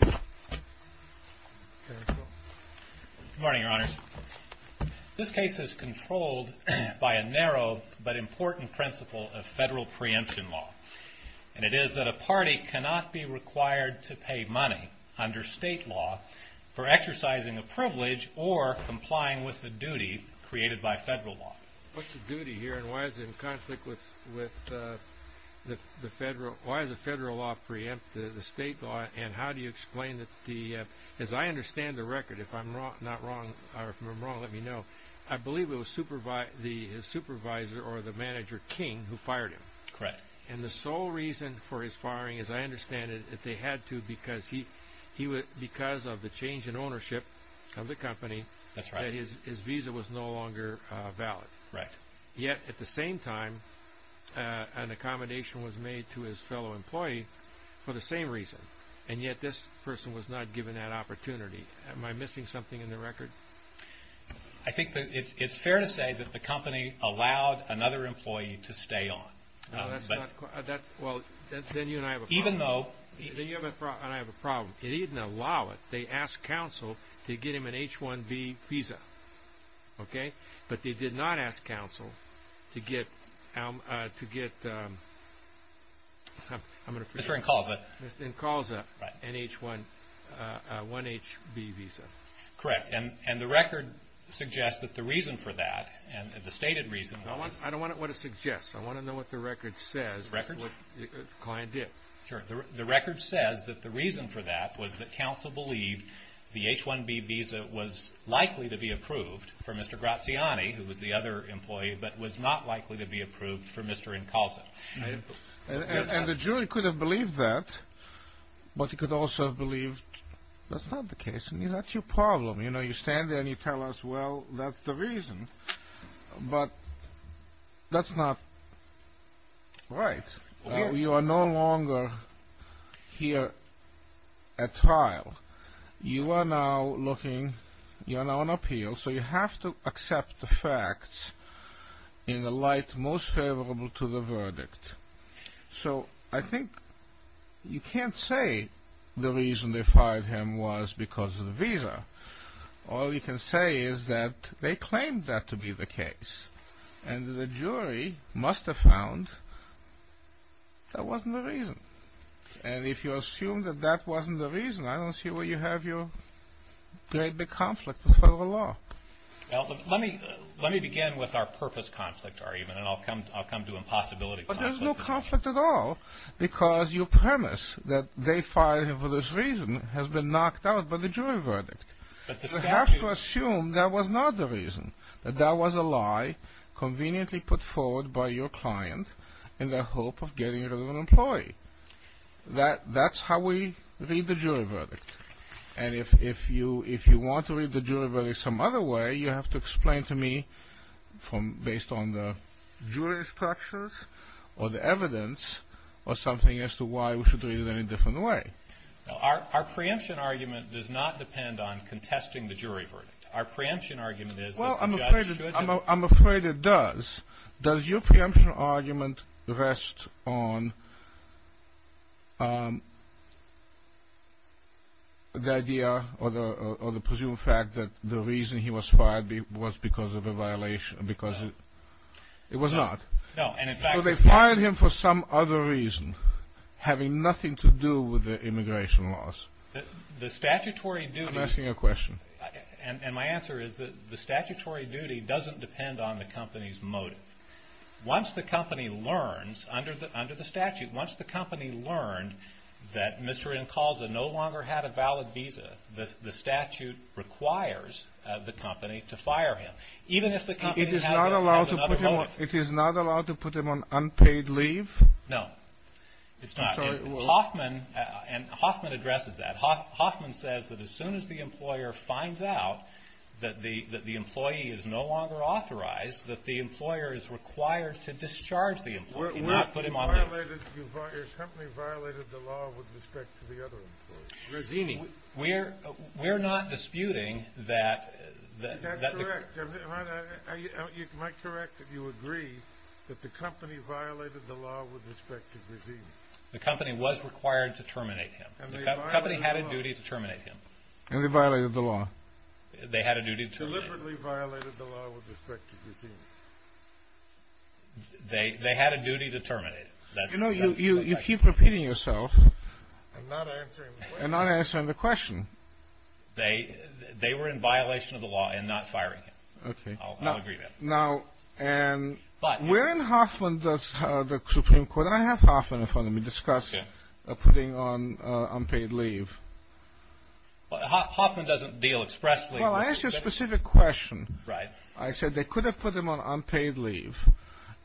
Good morning, Your Honors. This case is controlled by a narrow but important principle of federal preemption law, and it is that a party cannot be required to pay money under state law for exercising a privilege or complying with the duty created by federal law. What's the duty here, and why is it in conflict with the federal, why does the federal law preempt the state law, and how do you explain that the, as I understand the record, if I'm not wrong, or if I'm wrong, let me know, I believe it was his supervisor or the manager, King, who fired him. Correct. And the sole reason for his firing, as I understand it, is that they had to because of the change in ownership of the company, that his visa was no longer valid. Right. Yet, at the same time, an accommodation was made to his fellow employee for the same reason, and yet this person was not given that opportunity. Am I missing something in the record? I think that it's fair to say that the company allowed another employee to stay on. No, that's not, well, then you and I have a problem. Even though. Then you and I have a problem. It didn't allow it. They asked counsel to get him an H-1B visa, okay? But they did not ask counsel to get, to get, I'm going to forget. Mr. Incalza. Mr. Incalza. Right. An H-1, one H-B visa. Correct. And the record suggests that the reason for that, and the stated reason was. I don't want to know what it suggests. I want to know what the record says. Records? What the client did. Sure. The record says that the reason for that was that counsel believed the H-1B visa was likely to be approved for Mr. Graziani, who was the other employee, but was not likely to be approved for Mr. Incalza. And the jury could have believed that, but you could also have believed that's not the case. That's your problem. You know, you stand there and you tell us, well, that's the reason, but that's not right. You are no longer here at trial. You are now looking, you are now on appeal, so you have to accept the facts in the light most favorable to the verdict. So I think you can't say the reason they fired him was because of the visa. All you can say is that they claimed that to be the case, and the jury must have found that wasn't the reason. And if you assume that that wasn't the reason, I don't see where you have your great big conflict with federal law. Well, let me begin with our purpose conflict argument, and I'll come to impossibility conflicts. But there's no conflict at all, because your premise that they fired him for this reason has been knocked out by the jury verdict. You have to assume that was not the reason, that that was a lie conveniently put forward by your client in the hope of getting rid of an employee. That's how we read the jury verdict. And if you want to read the jury verdict some other way, you have to explain to me based on the jury structures or the evidence or something as to why we should read it any different way. Our preemption argument does not depend on contesting the jury verdict. Our preemption argument is that the judge should have. Well, I'm afraid it does. Does your preemption argument rest on the idea or the presumed fact that the reason he was fired was because of a violation, because it was not? No. So they fired him for some other reason having nothing to do with the immigration laws. The statutory duty. I'm asking a question. And my answer is that the statutory duty doesn't depend on the company's motive. Once the company learns under the statute, once the company learned that Mr. Incalza no longer had a valid visa, the statute requires the company to fire him. Even if the company has another motive. It is not allowed to put him on unpaid leave? No. It's not. Hoffman addresses that. Hoffman says that as soon as the employer finds out that the employee is no longer authorized, that the employer is required to discharge the employee, not put him on leave. Your company violated the law with respect to the other employees. We're not disputing that. That's correct. Am I correct that you agree that the company violated the law with respect to Grissini? The company was required to terminate him. The company had a duty to terminate him. And they violated the law. They had a duty to terminate him. They deliberately violated the law with respect to Grissini. They had a duty to terminate him. You know, you keep repeating yourself. I'm not answering the question. You're not answering the question. They were in violation of the law and not firing him. Okay. I'll agree with that. Now, where in Hoffman does the Supreme Court, and I have Hoffman in front of me, discuss putting on unpaid leave? Hoffman doesn't deal expressly. Well, I asked you a specific question. Right. I said they could have put him on unpaid leave.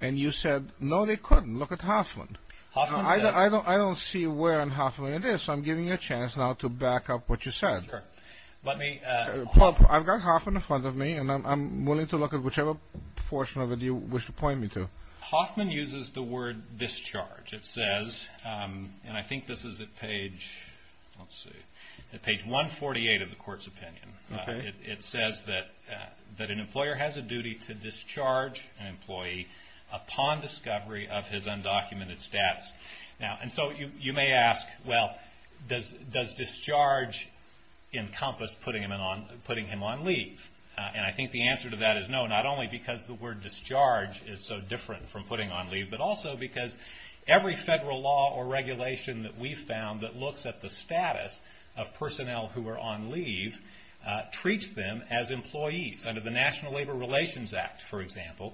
And you said, no, they couldn't. Look at Hoffman. I don't see where in Hoffman it is, so I'm giving you a chance now to back up what you said. Sure. I've got Hoffman in front of me, and I'm willing to look at whichever portion of it you wish to point me to. Hoffman uses the word discharge. It says, and I think this is at page 148 of the court's opinion. It says that an employer has a duty to discharge an employee upon discovery of his undocumented status. And so you may ask, well, does discharge encompass putting him on leave? And I think the answer to that is no, not only because the word discharge is so different from putting on leave, but also because every federal law or regulation that we've found that looks at the status of personnel who are on leave treats them as employees. Under the National Labor Relations Act, for example,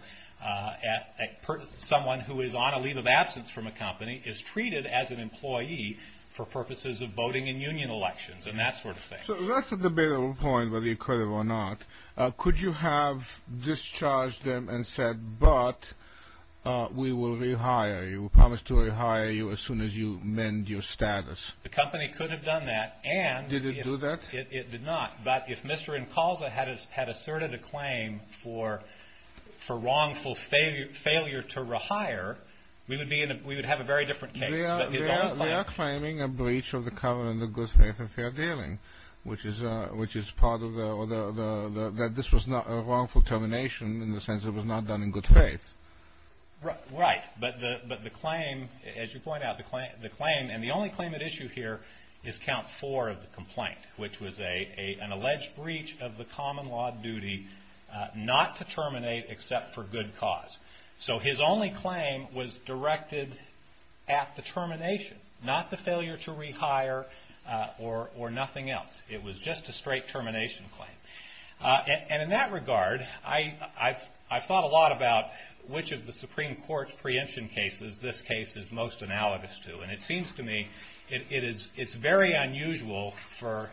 someone who is on a leave of absence from a company is treated as an employee for purposes of voting in union elections and that sort of thing. So that's a debatable point, whether you're correct or not. Could you have discharged them and said, but we will rehire you, promise to rehire you as soon as you mend your status? The company could have done that. Did it do that? It did not. But if Mr. Incalza had asserted a claim for wrongful failure to rehire, we would have a very different case. They are claiming a breach of the covenant of good faith and fair dealing, which is part of the – that this was a wrongful termination in the sense it was not done in good faith. Right. But the claim, as you point out, the claim – and the only claim at issue here is count four of the complaint, which was an alleged breach of the common law duty not to terminate except for good cause. So his only claim was directed at the termination, not the failure to rehire or nothing else. It was just a straight termination claim. And in that regard, I thought a lot about which of the Supreme Court's preemption cases this case is most analogous to. And it seems to me it's very unusual for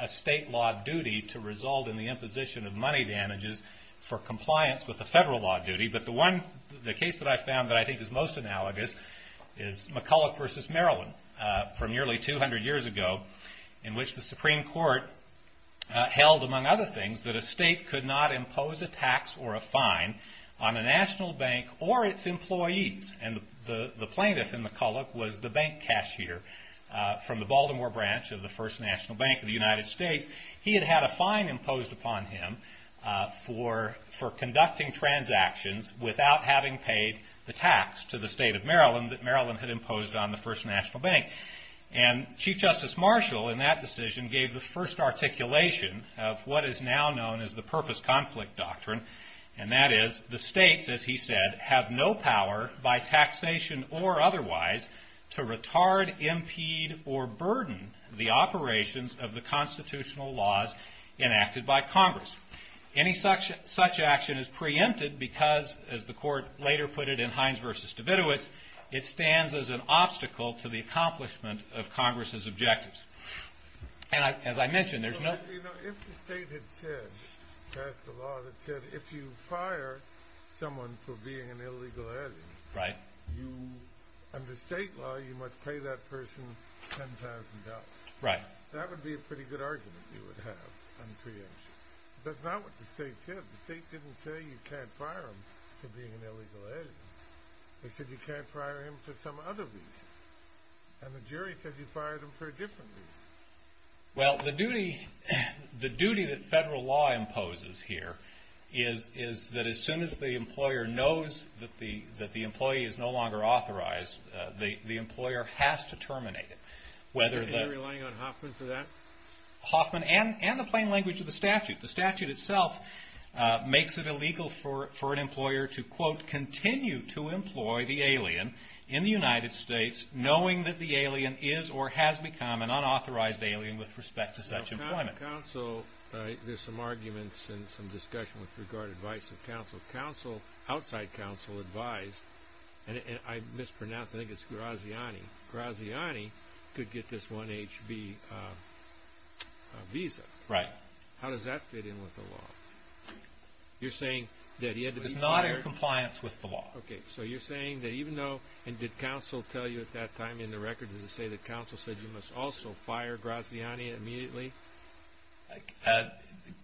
a state law duty to result in the imposition of money damages for compliance with the federal law duty. But the one – the case that I found that I think is most analogous is McCulloch v. Maryland from nearly 200 years ago, in which the Supreme Court held, among other things, that a state could not impose a tax or a fine on a national bank or its employees. And the plaintiff in McCulloch was the bank cashier from the Baltimore branch of the First National Bank of the United States. He had had a fine imposed upon him for conducting transactions without having paid the tax to the state of Maryland that Maryland had imposed on the First National Bank. And Chief Justice Marshall, in that decision, gave the first articulation of what is now known as the Purpose Conflict Doctrine. And that is the states, as he said, have no power by taxation or otherwise to retard, impede, or burden the operations of the constitutional laws enacted by Congress. Any such action is preempted because, as the Court later put it in Hines v. Davidowitz, it stands as an obstacle to the accomplishment of Congress's objectives. And as I mentioned, there's no – You know, if the state had said – passed a law that said if you fire someone for being an illegal agent – Right. Under state law, you must pay that person $10,000. Right. That would be a pretty good argument you would have on preemption. But that's not what the state said. The state didn't say you can't fire him for being an illegal agent. They said you can't fire him for some other reason. And the jury said you fired him for a different reason. Well, the duty that federal law imposes here is that as soon as the employer knows that the employee is no longer authorized, the employer has to terminate it. Are you relying on Hoffman for that? Hoffman and the plain language of the statute. The statute itself makes it illegal for an employer to, quote, in the United States, knowing that the alien is or has become an unauthorized alien with respect to such employment. Now, counsel – there's some arguments and some discussion with regard to advice of counsel. Counsel – outside counsel advised – and I mispronounced. I think it's Graziani. Graziani could get this 1HB visa. Right. How does that fit in with the law? You're saying that he had to be fired – He is not in compliance with the law. Okay. So you're saying that even though – and did counsel tell you at that time in the record, does it say that counsel said you must also fire Graziani immediately?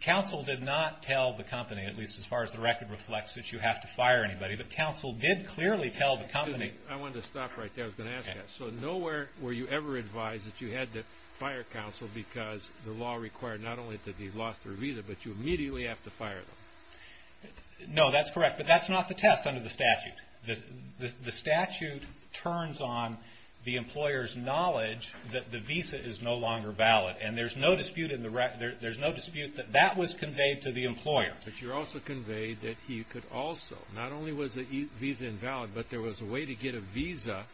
Counsel did not tell the company, at least as far as the record reflects, that you have to fire anybody. But counsel did clearly tell the company – I wanted to stop right there. I was going to ask that. So nowhere were you ever advised that you had to fire counsel because the law required not only that he lost their visa, but you immediately have to fire them. No, that's correct, but that's not the test under the statute. The statute turns on the employer's knowledge that the visa is no longer valid, and there's no dispute that that was conveyed to the employer. But you also conveyed that he could also – not only was the visa invalid, but there was a way to get a visa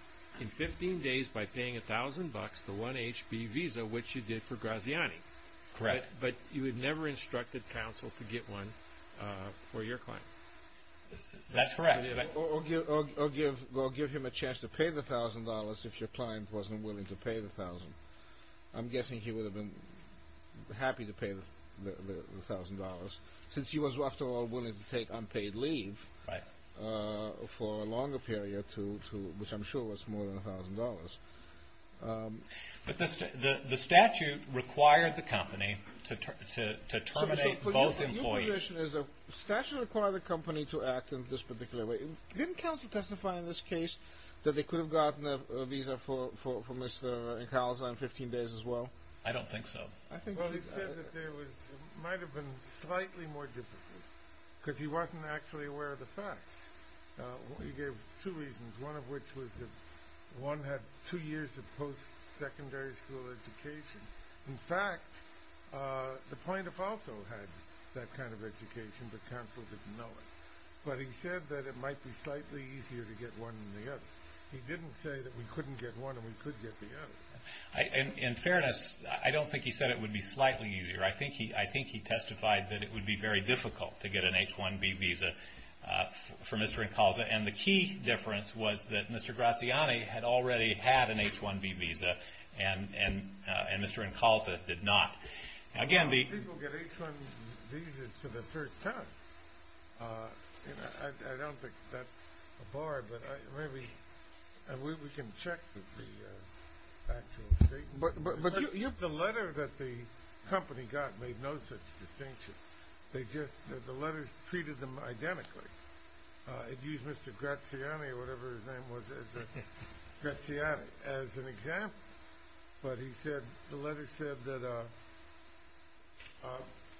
in 15 days by paying $1,000, the 1HB visa, which you did for Graziani. Correct. But you had never instructed counsel to get one for your client. That's correct. Or give him a chance to pay the $1,000 if your client wasn't willing to pay the $1,000. I'm guessing he would have been happy to pay the $1,000 since he was, after all, willing to take unpaid leave for a longer period, which I'm sure was more than $1,000. But the statute required the company to terminate both employees. Your position is the statute required the company to act in this particular way. Didn't counsel testify in this case that they could have gotten a visa for Mr. Incalza in 15 days as well? I don't think so. Well, he said that it might have been slightly more difficult because he wasn't actually aware of the facts. He gave two reasons, one of which was that one had two years of post-secondary school education. In fact, the plaintiff also had that kind of education, but counsel didn't know it. But he said that it might be slightly easier to get one than the other. He didn't say that we couldn't get one and we could get the other. In fairness, I don't think he said it would be slightly easier. I think he testified that it would be very difficult to get an H-1B visa for Mr. Incalza, and the key difference was that Mr. Graziani had already had an H-1B visa and Mr. Incalza did not. How many people get H-1B visas for the first time? I don't think that's a bar, but maybe we can check the actual state. The letter that the company got made no such distinction. The letters treated them identically. It used Mr. Graziani or whatever his name was as an example, but the letter said that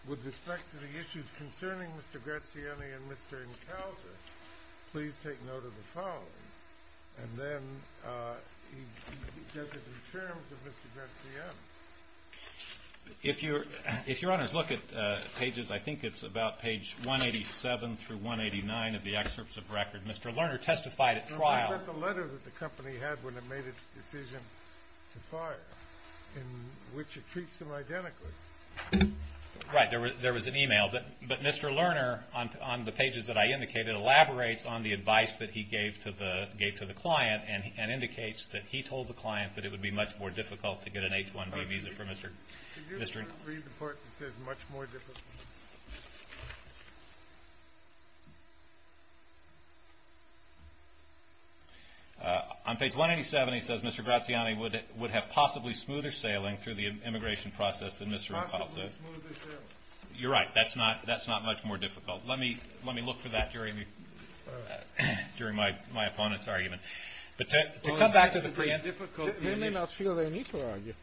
with respect to the issues concerning Mr. Graziani and Mr. Incalza, please take note of the following. And then he does it in terms of Mr. Graziani. If your honors look at pages, I think it's about page 187 through 189 of the excerpts of record, Mr. Lerner testified at trial. The letter that the company had when it made its decision to fire, in which it treats them identically. Right, there was an email. But Mr. Lerner, on the pages that I indicated, elaborates on the advice that he gave to the client and indicates that he told the client that it would be much more difficult to get an H-1B visa for Mr. Incalza. Could you read the part that says much more difficult? On page 187 he says Mr. Graziani would have possibly smoother sailing through the immigration process than Mr. Incalza. Possibly smoother sailing. You're right. That's not much more difficult. Let me look for that during my opponent's argument. But to come back to the preamble. They may not feel they need to argue.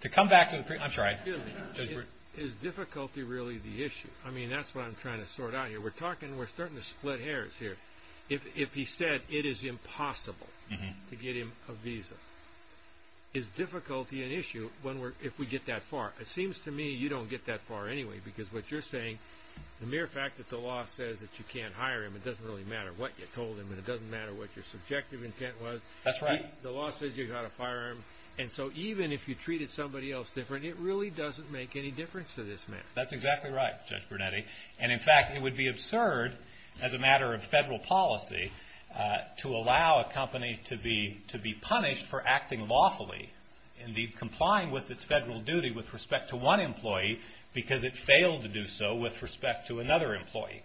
To come back to the preamble. I'm sorry. Excuse me. Is difficulty really the issue? I mean, that's what I'm trying to sort out here. We're starting to split hairs here. If he said it is impossible to get him a visa, is difficulty an issue if we get that far? It seems to me you don't get that far anyway. Because what you're saying, the mere fact that the law says that you can't hire him, it doesn't really matter what you told him and it doesn't matter what your subjective intent was. That's right. The law says you've got to fire him. And so even if you treated somebody else different, it really doesn't make any difference to this man. That's exactly right, Judge Brunetti. And, in fact, it would be absurd, as a matter of federal policy, to allow a company to be punished for acting lawfully, indeed complying with its federal duty with respect to one employee, because it failed to do so with respect to another employee.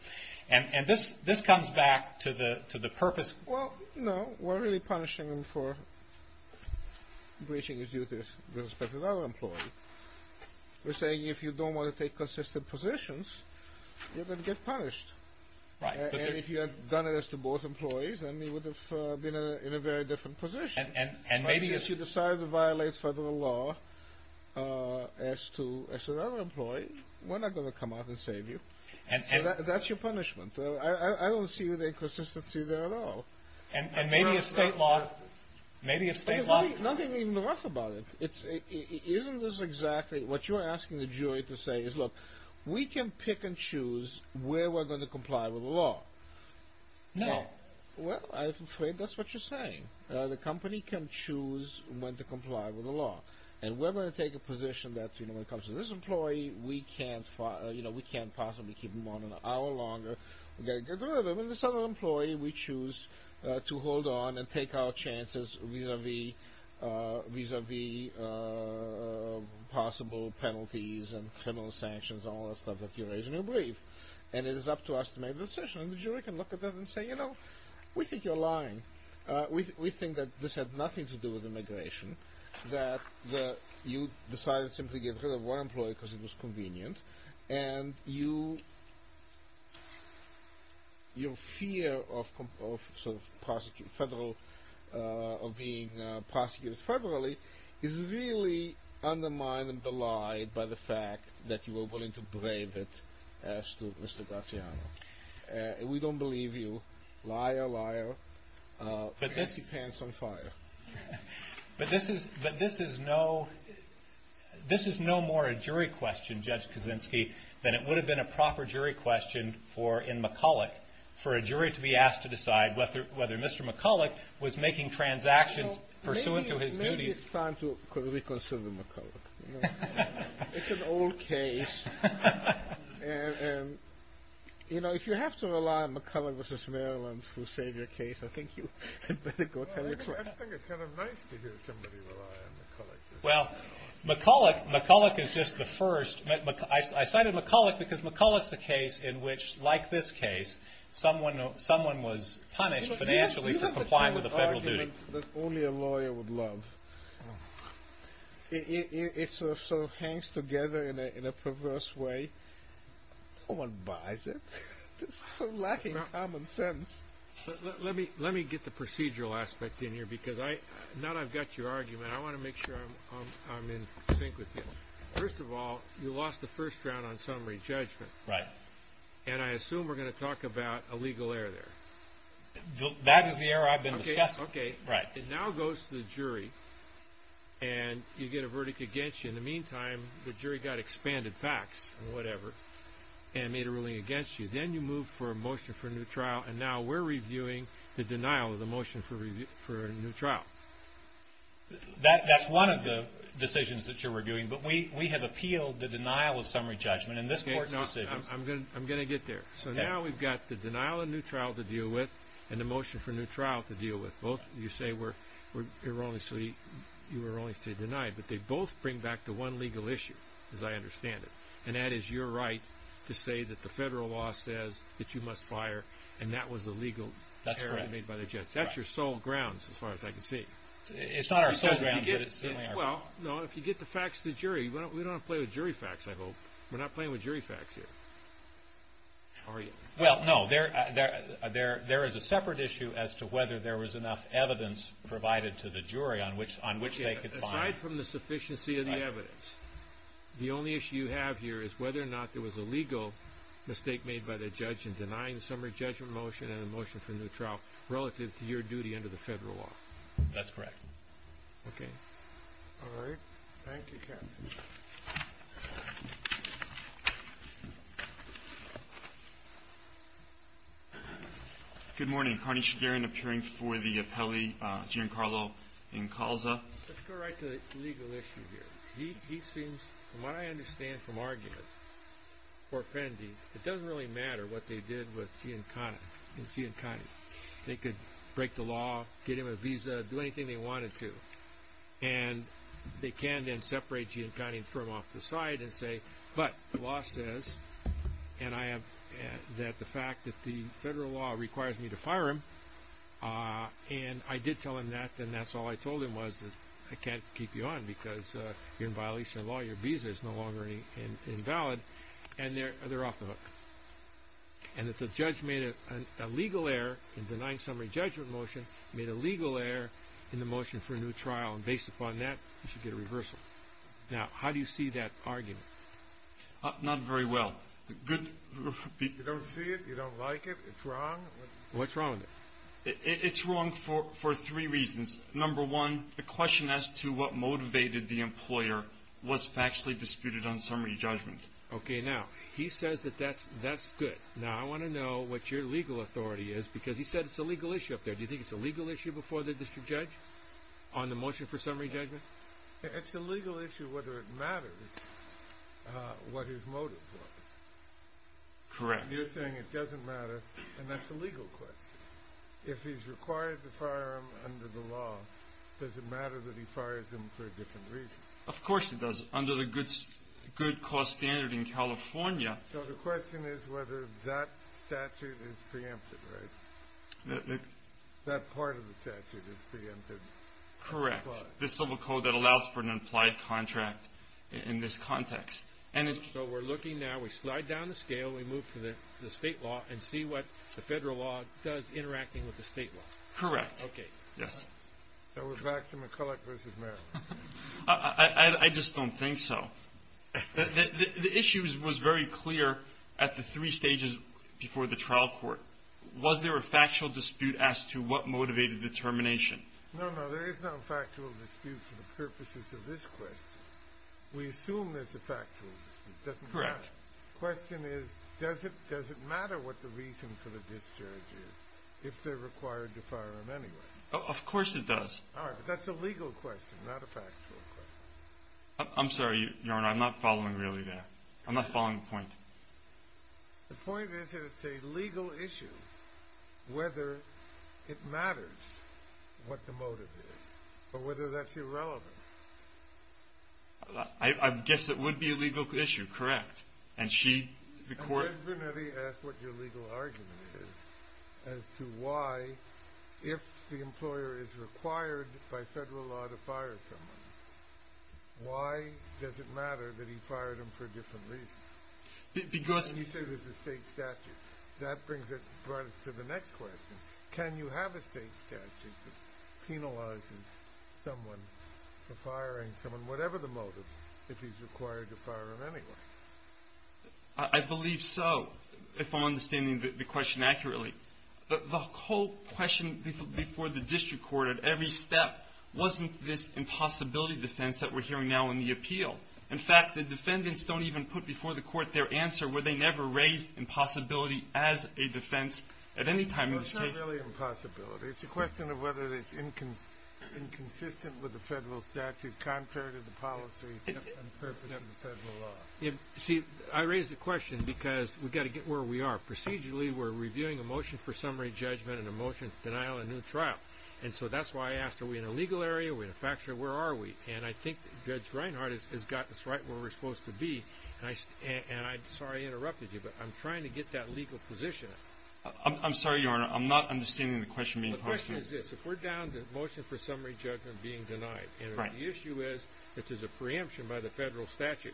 And this comes back to the purpose. Well, no. We're really punishing him for breaching his duties with respect to another employee. We're saying if you don't want to take consistent positions, you're going to get punished. Right. And if you had done it as to both employees, then he would have been in a very different position. And maybe if you decide to violate federal law as to another employee, we're not going to come out and save you. That's your punishment. I don't see the inconsistency there at all. And maybe if state law… There's nothing even rough about it. Isn't this exactly what you're asking the jury to say is, look, we can pick and choose where we're going to comply with the law. No. Well, I'm afraid that's what you're saying. The company can choose when to comply with the law. And we're going to take a position that when it comes to this employee, we can't possibly keep him on an hour longer. When it comes to this other employee, we choose to hold on and take our chances vis-a-vis possible penalties and criminal sanctions and all that stuff that you raise in your brief. And it is up to us to make the decision. And the jury can look at that and say, you know, we think you're lying. We think that this had nothing to do with immigration, that you decided simply to get rid of one employee because it was convenient, and your fear of being prosecuted federally is really undermined and belied by the fact that you were willing to brave it as to Mr. Garciano. We don't believe you. Liar, liar. But this depends on fire. But this is no more a jury question, Judge Kaczynski, than it would have been a proper jury question in McCulloch for a jury to be asked to decide whether Mr. McCulloch was making transactions pursuant to his duties. Maybe it's time to reconsider McCulloch. It's an old case. You know, if you have to rely on McCulloch v. Maryland to save your case, I think you had better go tell your client. I think it's kind of nice to hear somebody rely on McCulloch. Well, McCulloch is just the first. I cited McCulloch because McCulloch's a case in which, like this case, someone was punished financially for complying with a federal duty. It's not the kind of argument that only a lawyer would love. It sort of hangs together in a perverse way. No one buys it. It's so lacking common sense. Let me get the procedural aspect in here because now that I've got your argument, I want to make sure I'm in sync with you. First of all, you lost the first round on summary judgment. Right. And I assume we're going to talk about a legal error there. That is the error I've been discussing. Okay. Right. It now goes to the jury, and you get a verdict against you. In the meantime, the jury got expanded facts and whatever and made a ruling against you. Then you move for a motion for a new trial, and now we're reviewing the denial of the motion for a new trial. That's one of the decisions that you're reviewing, but we have appealed the denial of summary judgment in this court's decision. I'm going to get there. So now we've got the denial of a new trial to deal with and the motion for a new trial to deal with. You say we're erroneously denied, but they both bring back to one legal issue, as I understand it, and that is your right to say that the federal law says that you must fire, and that was a legal error made by the judge. That's correct. That's your sole grounds, as far as I can see. It's not our sole grounds, but it certainly is. Well, no, if you get the facts to the jury. We don't want to play with jury facts, I hope. We're not playing with jury facts here. How are you? Well, no, there is a separate issue as to whether there was enough evidence provided to the jury on which they could find. Aside from the sufficiency of the evidence, the only issue you have here is whether or not there was a legal mistake made by the judge in denying the summary judgment motion and the motion for a new trial relative to your duty under the federal law. That's correct. Okay. All right. Thank you, Captain. Good morning. Carney Shagarin appearing for the appellee, Giancarlo Incalza. Let's go right to the legal issue here. He seems, from what I understand from argument, it doesn't really matter what they did with Giancana. They could break the law, get him a visa, do anything they wanted to, and they can then separate Giancana and throw him off to the side and say, but the law says, and I have the fact that the federal law requires me to fire him, and I did tell him that, and that's all I told him was that I can't keep you on because you're in violation of the law, your visa is no longer invalid, and they're off the hook, and that the judge made a legal error in denying summary judgment motion, made a legal error in the motion for a new trial, and based upon that, you should get a reversal. Now, how do you see that argument? Not very well. You don't see it? You don't like it? It's wrong? What's wrong with it? It's wrong for three reasons. Number one, the question as to what motivated the employer was factually disputed on summary judgment. Okay. Now, he says that that's good. Now, I want to know what your legal authority is because he said it's a legal issue up there. Do you think it's a legal issue before the district judge on the motion for summary judgment? It's a legal issue whether it matters what his motive was. Correct. You're saying it doesn't matter, and that's a legal question. If he's required to fire him under the law, does it matter that he fires him for a different reason? Of course it does. Under the good cause standard in California. So the question is whether that statute is preempted, right? That part of the statute is preempted. Correct. The civil code that allows for an implied contract in this context. So we're looking now, we slide down the scale, until we move to the state law and see what the federal law does interacting with the state law. Correct. Okay. Now we're back to McCulloch v. Maryland. I just don't think so. The issue was very clear at the three stages before the trial court. Was there a factual dispute as to what motivated the termination? No, no, there is no factual dispute for the purposes of this question. We assume there's a factual dispute. Correct. The question is, does it matter what the reason for the discharge is, if they're required to fire him anyway? Of course it does. All right, but that's a legal question, not a factual question. I'm sorry, Your Honor, I'm not following really that. I'm not following the point. The point is that it's a legal issue whether it matters what the motive is, or whether that's irrelevant. I guess it would be a legal issue, correct. And she, the court… Judge Vernetti asked what your legal argument is as to why, if the employer is required by federal law to fire someone, why does it matter that he fired him for a different reason? Because… You said it was a state statute. That brings us to the next question. Can you have a state statute that penalizes someone for firing someone, whatever the motive, if he's required to fire him anyway? I believe so, if I'm understanding the question accurately. The whole question before the district court at every step wasn't this impossibility defense that we're hearing now in the appeal. In fact, the defendants don't even put before the court their answer, where they never raised impossibility as a defense at any time in this case. It's not really impossibility. It's a question of whether it's inconsistent with the federal statute, contrary to the policy and purpose of the federal law. See, I raised the question because we've got to get where we are. Procedurally, we're reviewing a motion for summary judgment and a motion for denial of a new trial. And so that's why I asked, are we in a legal area? Are we in a factual area? Where are we? And I think Judge Reinhart has gotten us right where we're supposed to be. And I'm sorry I interrupted you, but I'm trying to get that legal position. I'm sorry, Your Honor. I'm not understanding the question being posed to me. The question is this. If we're down to motion for summary judgment being denied, and the issue is if there's a preemption by the federal statute,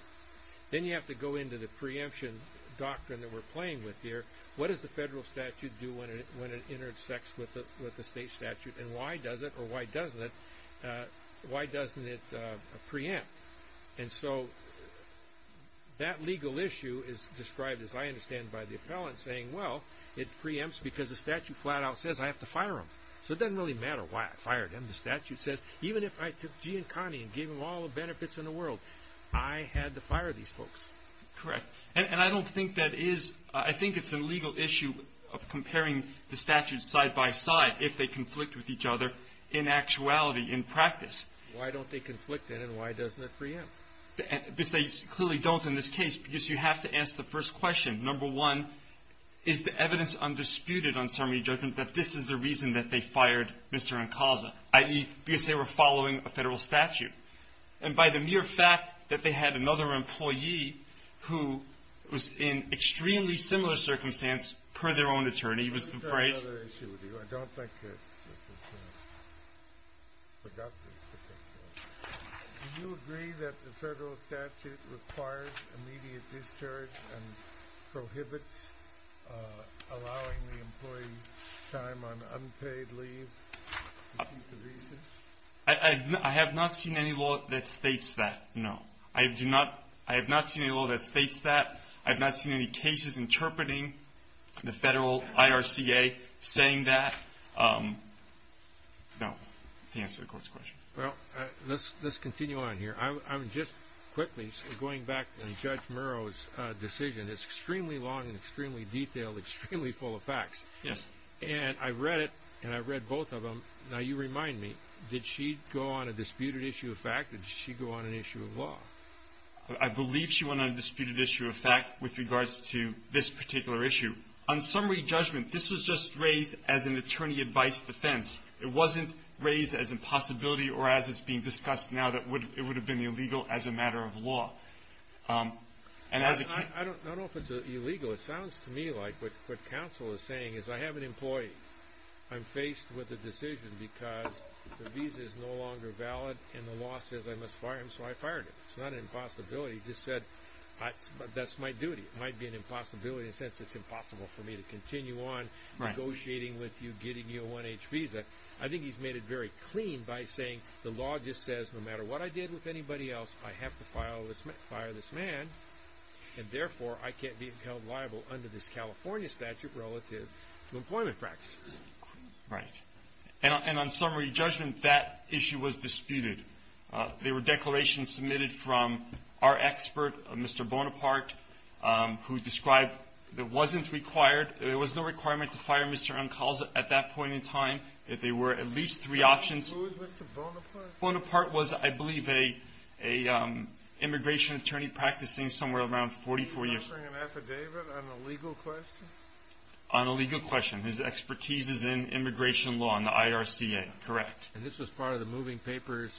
then you have to go into the preemption doctrine that we're playing with here. What does the federal statute do when it intersects with the state statute, and why does it or why doesn't it preempt? And so that legal issue is described, as I understand, by the appellant saying, well, it preempts because the statute flat out says I have to fire them. So it doesn't really matter why I fire them. The statute says even if I took G and Connie and gave them all the benefits in the world, I had to fire these folks. Correct. And I don't think that is – I think it's a legal issue of comparing the statutes side by side if they conflict with each other in actuality, in practice. Why don't they conflict, then, and why doesn't it preempt? They clearly don't in this case because you have to ask the first question. Number one, is the evidence undisputed on summary judgment that this is the reason that they fired Mr. Ancaza, i.e., because they were following a federal statute? And by the mere fact that they had another employee who was in extremely similar circumstance per their own attorney was the phrase – I have another issue with you. I don't think this is productive. Do you agree that the federal statute requires immediate discharge and prohibits allowing the employee time on unpaid leave to seek a reason? I have not seen any law that states that, no. I have not seen any law that states that. I have not seen any cases interpreting the federal IRCA saying that, no, to answer the court's question. Well, let's continue on here. Just quickly, going back to Judge Murrow's decision, it's extremely long and extremely detailed, extremely full of facts. Yes. And I read it, and I read both of them. Now, you remind me, did she go on a disputed issue of fact or did she go on an issue of law? I believe she went on a disputed issue of fact with regards to this particular issue. On summary judgment, this was just raised as an attorney advice defense. It wasn't raised as a possibility or as is being discussed now that it would have been illegal as a matter of law. I don't know if it's illegal. It sounds to me like what counsel is saying is I have an employee. I'm faced with a decision because the visa is no longer valid and the law says I must fire him, so I fired him. It's not an impossibility. He just said that's my duty. It might be an impossibility in the sense it's impossible for me to continue on negotiating with you, getting you a one-age visa. I think he's made it very clean by saying the law just says no matter what I did with anybody else, I have to fire this man, and therefore I can't be held liable under this California statute relative to employment practices. Right. And on summary judgment, that issue was disputed. There were declarations submitted from our expert, Mr. Bonaparte, who described it wasn't required. There was no requirement to fire Mr. Ancalza at that point in time. There were at least three options. Who was Mr. Bonaparte? Bonaparte was, I believe, an immigration attorney practicing somewhere around 44 years. Did he bring an affidavit on a legal question? On a legal question. His expertise is in immigration law and the IRCA. Correct. And this was part of the moving papers,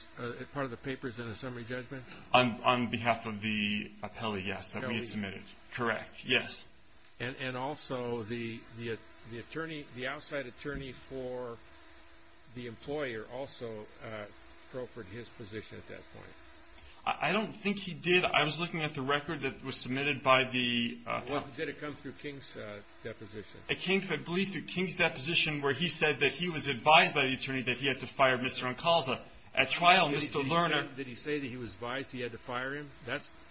part of the papers in the summary judgment? On behalf of the appellee, yes, that we had submitted. Correct. Yes. And also the attorney, the outside attorney for the employer also proffered his position at that point. I don't think he did. I was looking at the record that was submitted by the appellate. Did it come through King's deposition? It came, I believe, through King's deposition where he said that he was advised by the attorney that he had to fire Mr. Ancalza. At trial, Mr. Lerner. Did he say that he was advised he had to fire him?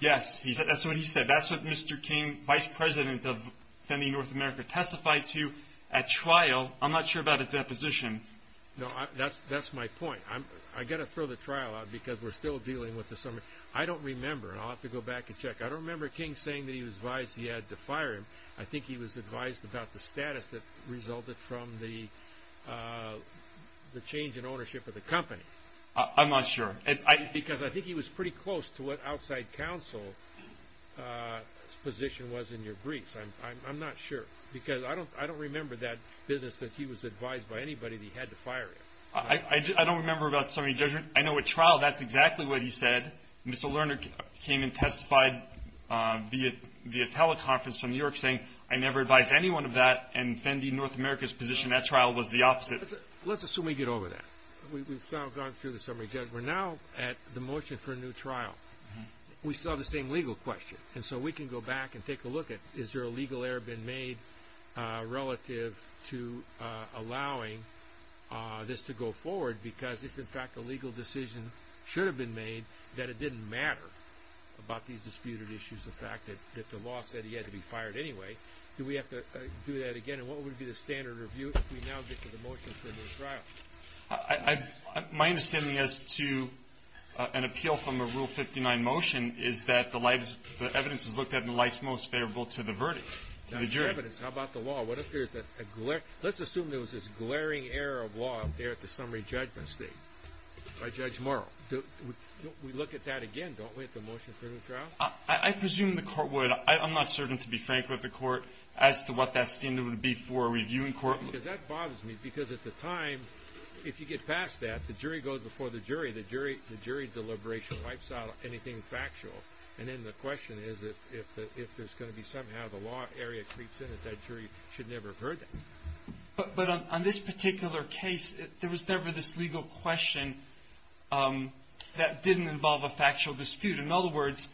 Yes. That's what he said. That's what Mr. King, vice president of Defending North America, testified to at trial. I'm not sure about a deposition. No, that's my point. I've got to throw the trial out because we're still dealing with the summary. I don't remember, and I'll have to go back and check. I don't remember King saying that he was advised he had to fire him. I think he was advised about the status that resulted from the change in ownership of the company. I'm not sure. Because I think he was pretty close to what outside counsel's position was in your briefs. I'm not sure because I don't remember that business that he was advised by anybody that he had to fire him. I don't remember about summary judgment. I know at trial that's exactly what he said. Mr. Lerner came and testified via teleconference from New York saying, I never advised anyone of that, and Defending North America's position at trial was the opposite. Let's assume we get over that. We've now gone through the summary judgment. We're now at the motion for a new trial. We still have the same legal question, and so we can go back and take a look at, is there a legal error been made relative to allowing this to go forward? Because if, in fact, a legal decision should have been made that it didn't matter about these disputed issues, the fact that the law said he had to be fired anyway, do we have to do that again? And what would be the standard review if we now get to the motion for a new trial? My understanding as to an appeal from a Rule 59 motion is that the evidence is looked at in the light most favorable to the verdict, to the jury. That's the evidence. How about the law? Let's assume there was this glaring error of law there at the summary judgment state by Judge Murrell. We look at that again, don't we, at the motion for a new trial? I presume the court would. I'm not certain, to be frank with the court, as to what that standard would be for a reviewing court. Because that bothers me because at the time, if you get past that, the jury goes before the jury. The jury deliberation wipes out anything factual. And then the question is if there's going to be somehow the law area creeps in, that jury should never have heard that. But on this particular case, there was never this legal question that didn't involve a factual dispute. In other words,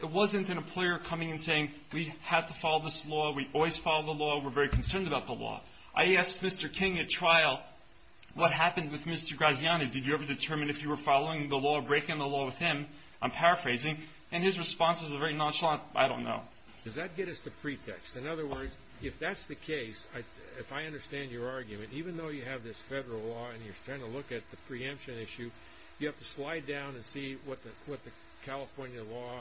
it wasn't an employer coming and saying, we have to follow this law, we always follow the law, we're very concerned about the law. I asked Mr. King at trial, what happened with Mr. Graziani? Did you ever determine if you were following the law, breaking the law with him? I'm paraphrasing. And his response was a very nonchalant, I don't know. Does that get us to pretext? In other words, if that's the case, if I understand your argument, even though you have this federal law and you're trying to look at the preemption issue, you have to slide down and see what the California law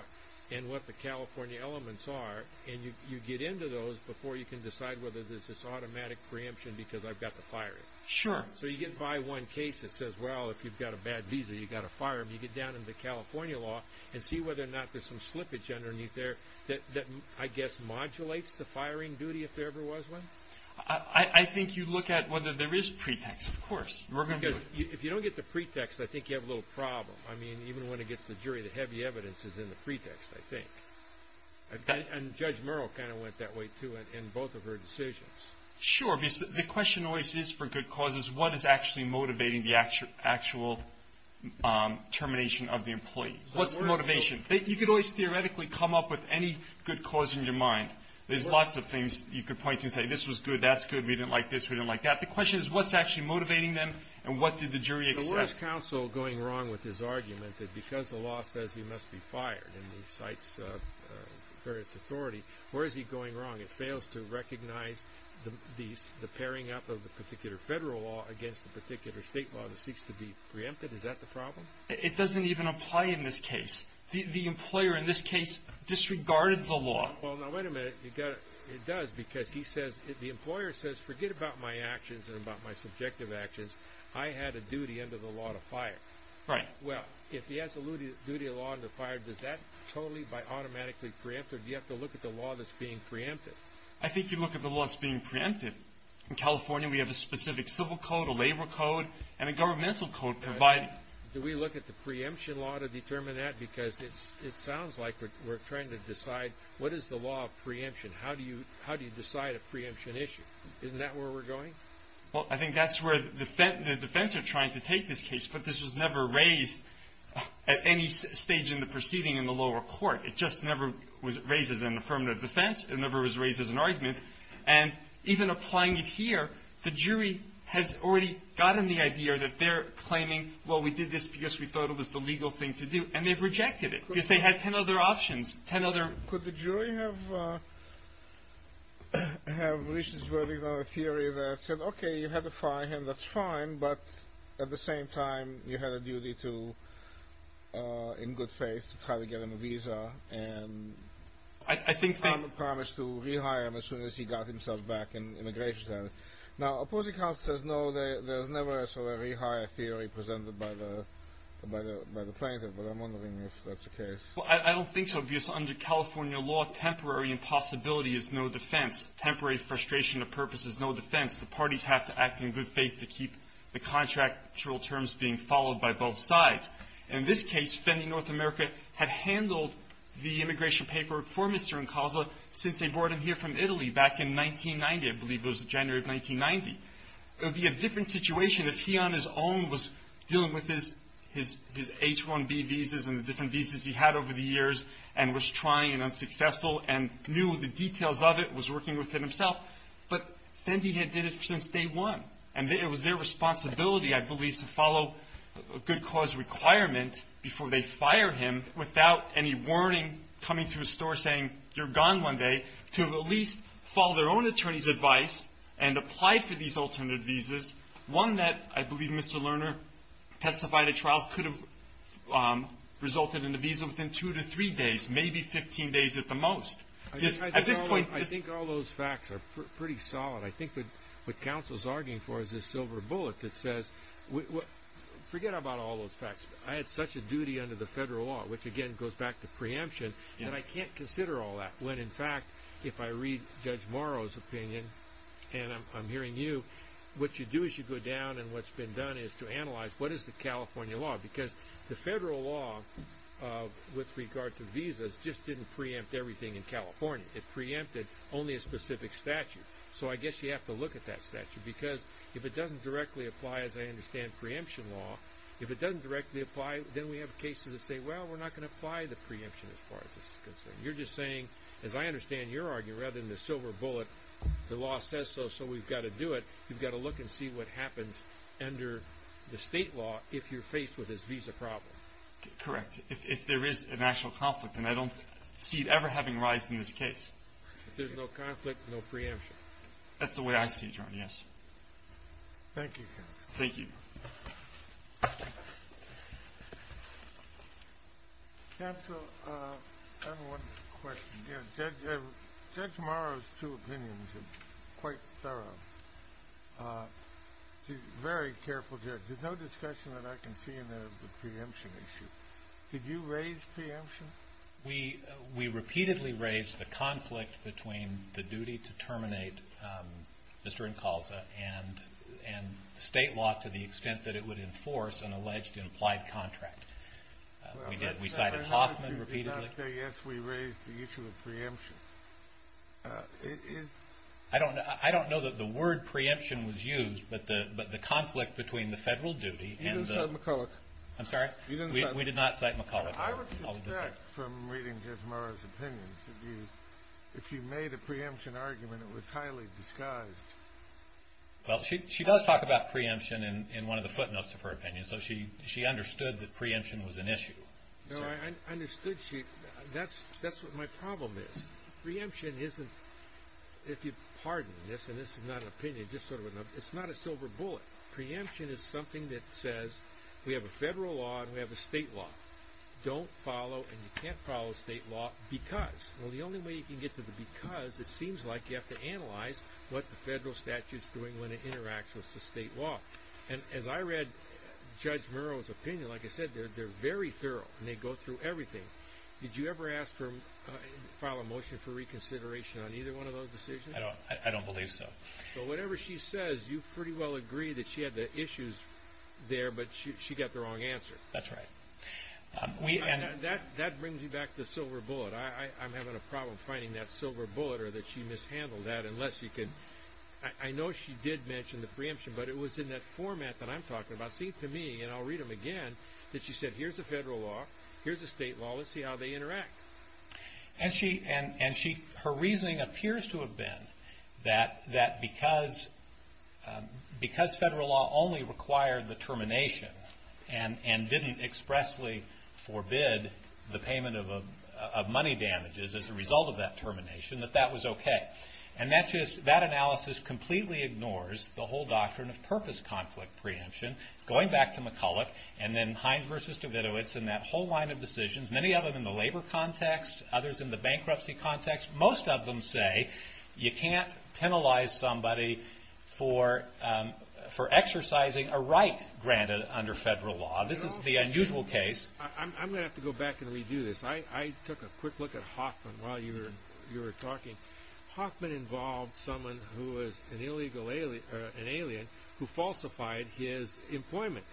and what the California elements are, and you get into those before you can decide whether there's this automatic preemption because I've got to fire you. Sure. So you get by one case that says, well, if you've got a bad visa, you've got to fire him. You get down into the California law and see whether or not there's some slippage underneath there that, I guess, modulates the firing duty if there ever was one? I think you look at whether there is pretext, of course. Because if you don't get the pretext, I think you have a little problem. I mean, even when it gets to the jury, the heavy evidence is in the pretext, I think. And Judge Murrow kind of went that way, too, in both of her decisions. Sure. The question always is, for good causes, what is actually motivating the actual termination of the employee? What's the motivation? You could always theoretically come up with any good cause in your mind. There's lots of things you could point to and say, this was good, that's good, we didn't like this, we didn't like that. The question is, what's actually motivating them and what did the jury accept? Where is counsel going wrong with his argument that because the law says he must be fired and he cites various authority, where is he going wrong? It fails to recognize the pairing up of the particular federal law against the particular state law that seeks to be preempted? Is that the problem? It doesn't even apply in this case. The employer in this case disregarded the law. Well, now, wait a minute. It does because he says, the employer says, forget about my actions and about my subjective actions. I had a duty under the law to fire. Right. Well, if he has a duty of law under fire, does that totally automatically preempt or do you have to look at the law that's being preempted? I think you look at the law that's being preempted. In California, we have a specific civil code, a labor code, and a governmental code provided. Do we look at the preemption law to determine that? Because it sounds like we're trying to decide, what is the law of preemption? How do you decide a preemption issue? Isn't that where we're going? Well, I think that's where the defense are trying to take this case. But this was never raised at any stage in the proceeding in the lower court. It just never was raised as an affirmative defense. It never was raised as an argument. And even applying it here, the jury has already gotten the idea that they're claiming, well, we did this because we thought it was the legal thing to do. And they've rejected it because they had ten other options, ten other options. I'm just worried about a theory that said, okay, you had to fire him. That's fine. But at the same time, you had a duty to, in good faith, to try to get him a visa and promise to rehire him as soon as he got himself back and immigration status. Now, opposing counsel says, no, there's never a rehire theory presented by the plaintiff. But I'm wondering if that's the case. Well, I don't think so, because under California law, temporary impossibility is no defense. Temporary frustration of purpose is no defense. The parties have to act in good faith to keep the contractual terms being followed by both sides. In this case, Fendi North America had handled the immigration paper for Mr. Incaza since they brought him here from Italy back in 1990. I believe it was January of 1990. It would be a different situation if he on his own was dealing with his H-1B visas and the different visas he had over the years and was trying and unsuccessful and knew the details of it, was working with it himself. But Fendi had did it since day one. And it was their responsibility, I believe, to follow a good cause requirement before they fire him without any warning coming to his store saying, you're gone one day, to at least follow their own attorney's advice and apply for these alternate visas, one that I believe Mr. Lerner testified a trial could have resulted in a visa within two to three days, maybe 15 days at the most. I think all those facts are pretty solid. I think what counsel's arguing for is this silver bullet that says, forget about all those facts. I had such a duty under the federal law, which again goes back to preemption, that I can't consider all that when, in fact, if I read Judge Morrow's opinion, and I'm hearing you, what you do is you go down and what's been done is to analyze what is the California law? Because the federal law with regard to visas just didn't preempt everything in California. It preempted only a specific statute. So I guess you have to look at that statute. Because if it doesn't directly apply, as I understand preemption law, if it doesn't directly apply, then we have cases that say, well, we're not going to apply the preemption as far as this is concerned. You're just saying, as I understand your argument, rather than the silver bullet, the law says so, so we've got to do it. You've got to look and see what happens under the state law if you're faced with this visa problem. Correct. If there is a national conflict, and I don't see it ever having a rise in this case. If there's no conflict, no preemption. That's the way I see it, Your Honor, yes. Thank you, counsel. Thank you. Counsel, I have one question. Judge Morrow's two opinions are quite thorough. He's a very careful judge. There's no discussion that I can see in there of the preemption issue. Did you raise preemption? We repeatedly raised the conflict between the duty to terminate Mr. Incalza and state law to the extent that it would enforce an alleged implied contract. We cited Hoffman repeatedly. I say, yes, we raised the issue of preemption. I don't know that the word preemption was used, but the conflict between the federal duty and the- You didn't cite McCulloch. I'm sorry? You didn't cite McCulloch. We did not cite McCulloch. I would suspect from reading Judge Morrow's opinions that if you made a preemption argument, it was highly disguised. Well, she does talk about preemption in one of the footnotes of her opinion, so she understood that preemption was an issue. No, I understood she- That's what my problem is. Preemption isn't- If you pardon this, and this is not an opinion, just sort of a- It's not a silver bullet. Preemption is something that says we have a federal law and we have a state law. Don't follow and you can't follow state law because- Well, the only way you can get to the because, it seems like you have to analyze what the federal statute's doing when it interacts with the state law. And as I read Judge Morrow's opinion, like I said, they're very thorough and they go through everything. Did you ever ask her to file a motion for reconsideration on either one of those decisions? I don't believe so. So whatever she says, you pretty well agree that she had the issues there, but she got the wrong answer. That's right. That brings me back to the silver bullet. I'm having a problem finding that silver bullet or that she mishandled that unless you can- I know she did mention the preemption, but it was in that format that I'm talking about, seemed to me, and I'll read them again, that she said, here's the federal law, here's the state law, let's see how they interact. And her reasoning appears to have been that because federal law only required the termination and didn't expressly forbid the payment of money damages as a result of that termination, that that was okay. And that analysis completely ignores the whole doctrine of purpose conflict preemption, going back to McCulloch and then Hines v. Davidovitz and that whole line of decisions, many of them in the labor context, others in the bankruptcy context. Most of them say you can't penalize somebody for exercising a right granted under federal law. This is the unusual case. I'm going to have to go back and redo this. I took a quick look at Hoffman while you were talking. Hoffman involved someone who was an illegal alien who falsified his employment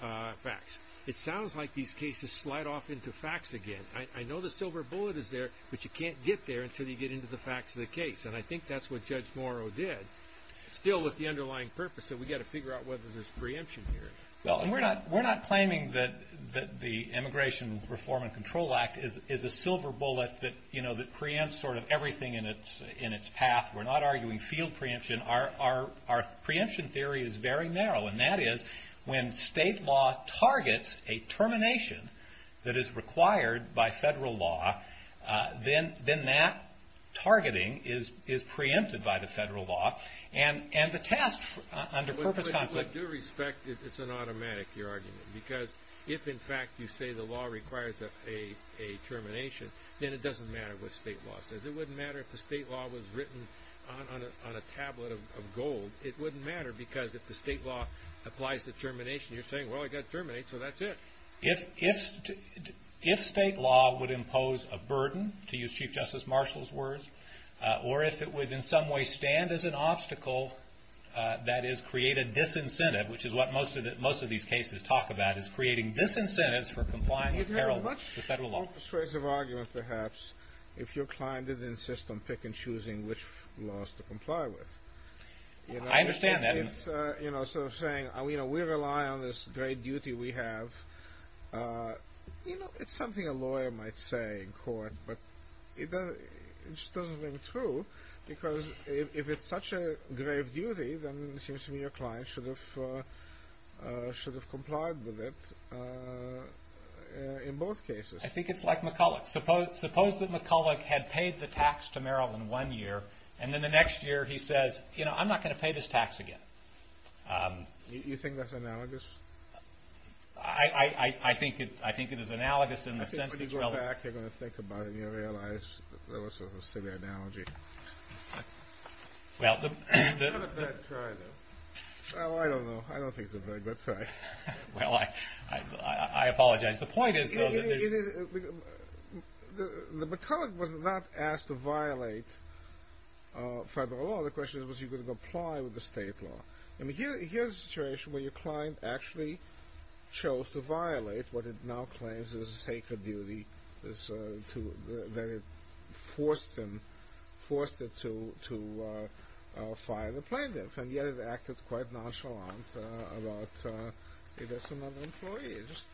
facts. It sounds like these cases slide off into facts again. I know the silver bullet is there, but you can't get there until you get into the facts of the case, and I think that's what Judge Morrow did, still with the underlying purpose that we've got to figure out whether there's preemption here. Well, and we're not claiming that the Immigration Reform and Control Act is a silver bullet that preempts sort of everything in its path. We're not arguing field preemption. Our preemption theory is very narrow, and that is when state law targets a termination that is required by federal law, then that targeting is preempted by the federal law. But with due respect, it's an automatic, your argument, because if, in fact, you say the law requires a termination, then it doesn't matter what state law says. It wouldn't matter if the state law was written on a tablet of gold. It wouldn't matter because if the state law applies the termination, you're saying, well, I've got to terminate, so that's it. If state law would impose a burden, to use Chief Justice Marshall's words, or if it would in some way stand as an obstacle, that is, create a disincentive, which is what most of these cases talk about, is creating disincentives for complying with the federal law. Well, you have a much more persuasive argument, perhaps, if your client didn't insist on picking and choosing which laws to comply with. I understand that. It's sort of saying, we rely on this great duty we have. You know, it's something a lawyer might say in court, but it just doesn't ring true, because if it's such a grave duty, then it seems to me your client should have complied with it in both cases. I think it's like McCulloch. Suppose that McCulloch had paid the tax to Maryland one year, and then the next year he says, you know, I'm not going to pay this tax again. You think that's analogous? I think it is analogous in the sense that you're all— I think when you go back, you're going to think about it, and you're going to realize there was a silly analogy. Well, the— What a bad try, though. Oh, I don't know. I don't think it's a very good try. Well, I apologize. The point is, though, that there's— The McCulloch was not asked to violate federal law. The question is, was he going to comply with the state law? I mean, here's a situation where your client actually chose to violate what it now claims is a sacred duty, that it forced him, forced it to fire the plaintiff, and yet it acted quite nonchalant about it as another employee. It just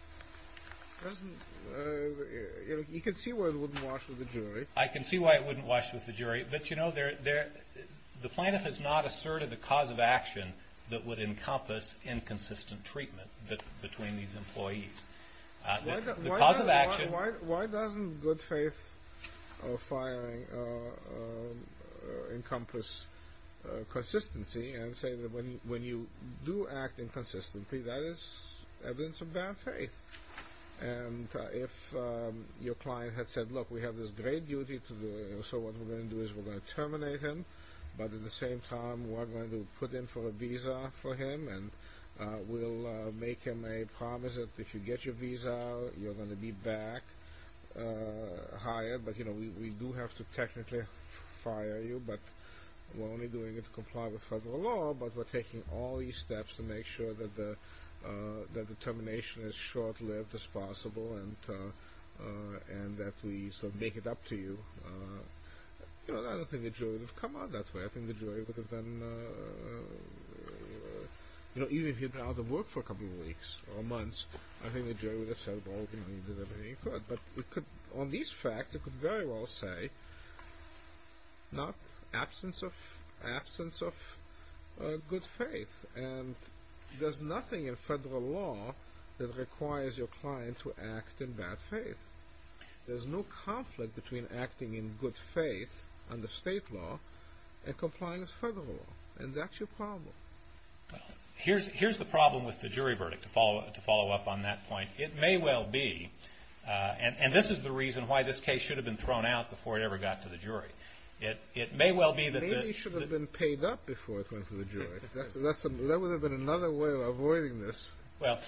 doesn't— You can see why it wouldn't wash with the jury. I can see why it wouldn't wash with the jury, but, you know, the plaintiff has not asserted a cause of action that would encompass inconsistent treatment between these employees. The cause of action— Why doesn't good faith of firing encompass consistency and say that when you do act inconsistently, that is evidence of bad faith? And if your client had said, look, we have this great duty to do, so what we're going to do is we're going to terminate him, but at the same time, we're going to put in for a visa for him, and we'll make him a promise that if you get your visa, you're going to be back hired, but, you know, we do have to technically fire you, but we're only doing it to comply with federal law, but we're taking all these steps to make sure that the termination is short-lived as possible and that we sort of make it up to you. You know, I don't think the jury would have come out that way. I think the jury would have been— You know, even if you had been out of work for a couple of weeks or months, I think the jury would have said, well, you know, you did everything you could, but on these facts, it could very well say, not absence of good faith, and there's nothing in federal law that requires your client to act in bad faith. There's no conflict between acting in good faith under state law and complying with federal law, and that's your problem. Here's the problem with the jury verdict, to follow up on that point. It may well be, and this is the reason why this case should have been thrown out before it ever got to the jury. It may well be that— That would have been another way of avoiding this. Well,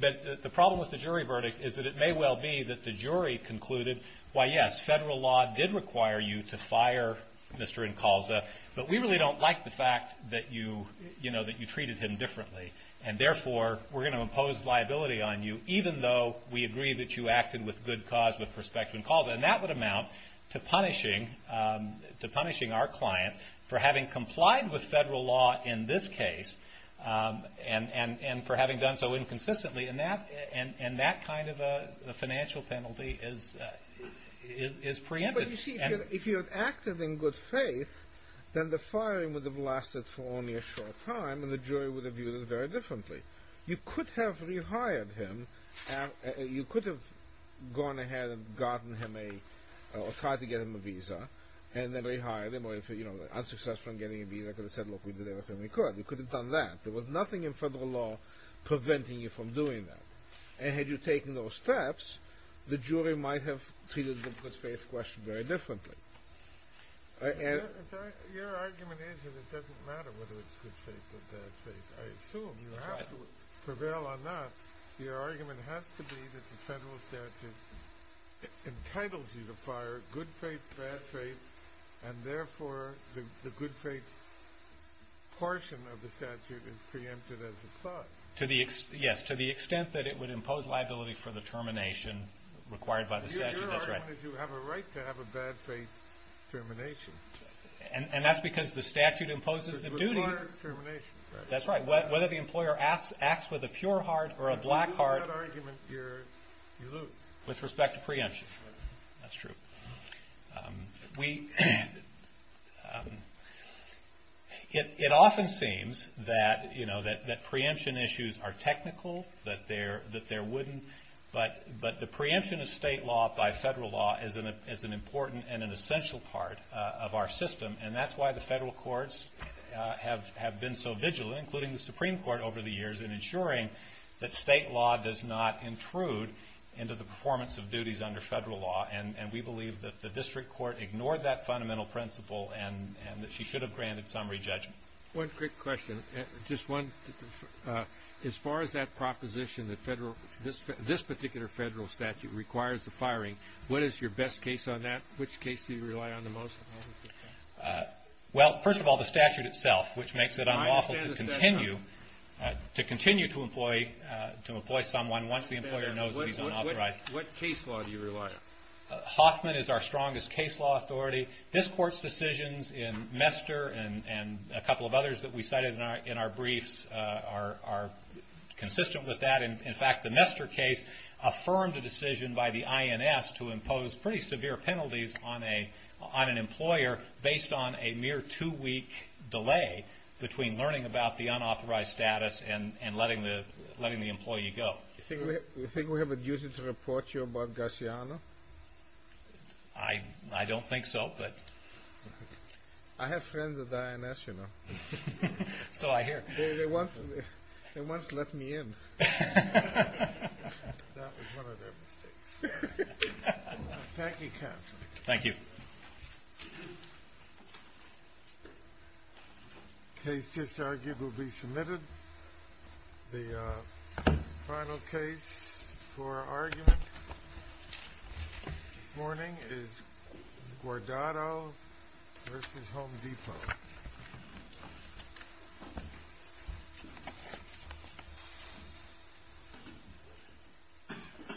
but the problem with the jury verdict is that it may well be that the jury concluded, why, yes, federal law did require you to fire Mr. Incalza, but we really don't like the fact that you, you know, that you treated him differently, and therefore we're going to impose liability on you, even though we agree that you acted with good cause with respect to Incalza, and that would amount to punishing our client for having complied with federal law in this case and for having done so inconsistently, and that kind of a financial penalty is preempted. But you see, if you had acted in good faith, then the firing would have lasted for only a short time, and the jury would have viewed it very differently. You could have rehired him. You could have gone ahead and gotten him a—or tried to get him a visa, and then rehired him, or if, you know, unsuccessful in getting a visa, could have said, look, we did everything we could. You could have done that. There was nothing in federal law preventing you from doing that. And had you taken those steps, the jury might have treated the good faith question very differently. Your argument is that it doesn't matter whether it's good faith or bad faith. I assume you have to prevail on that. Your argument has to be that the federal statute entitles you to fire good faith, bad faith, and therefore the good faith portion of the statute is preempted as a clause. Yes, to the extent that it would impose liability for the termination required by the statute, that's right. As long as you have a right to have a bad faith termination. And that's because the statute imposes the duty. It requires termination. That's right. Whether the employer acts with a pure heart or a black heart— If you lose that argument, you lose. With respect to preemption. That's true. We—it often seems that, you know, that preemption issues are technical, that there wouldn't, but the preemption of state law by federal law is an important and an essential part of our system. And that's why the federal courts have been so vigilant, including the Supreme Court over the years, in ensuring that state law does not intrude into the performance of duties under federal law. And we believe that the district court ignored that fundamental principle and that she should have granted summary judgment. One quick question. Just one. As far as that proposition that this particular federal statute requires the firing, what is your best case on that? Which case do you rely on the most? Well, first of all, the statute itself, which makes it unlawful to continue to employ someone once the employer knows that he's unauthorized. What case law do you rely on? Hoffman is our strongest case law authority. This Court's decisions in Mester and a couple of others that we cited in our briefs are consistent with that. In fact, the Mester case affirmed a decision by the INS to impose pretty severe penalties on an employer based on a mere two-week delay between learning about the unauthorized status and letting the employee go. Do you think we have a duty to report you about Gassiano? I don't think so, but... I have friends at the INS, you know. So I hear. They once let me in. That was one of their mistakes. Thank you, Counsel. Thank you. The case just argued will be submitted. The final case for argument this morning is Guardado v. Home Depot.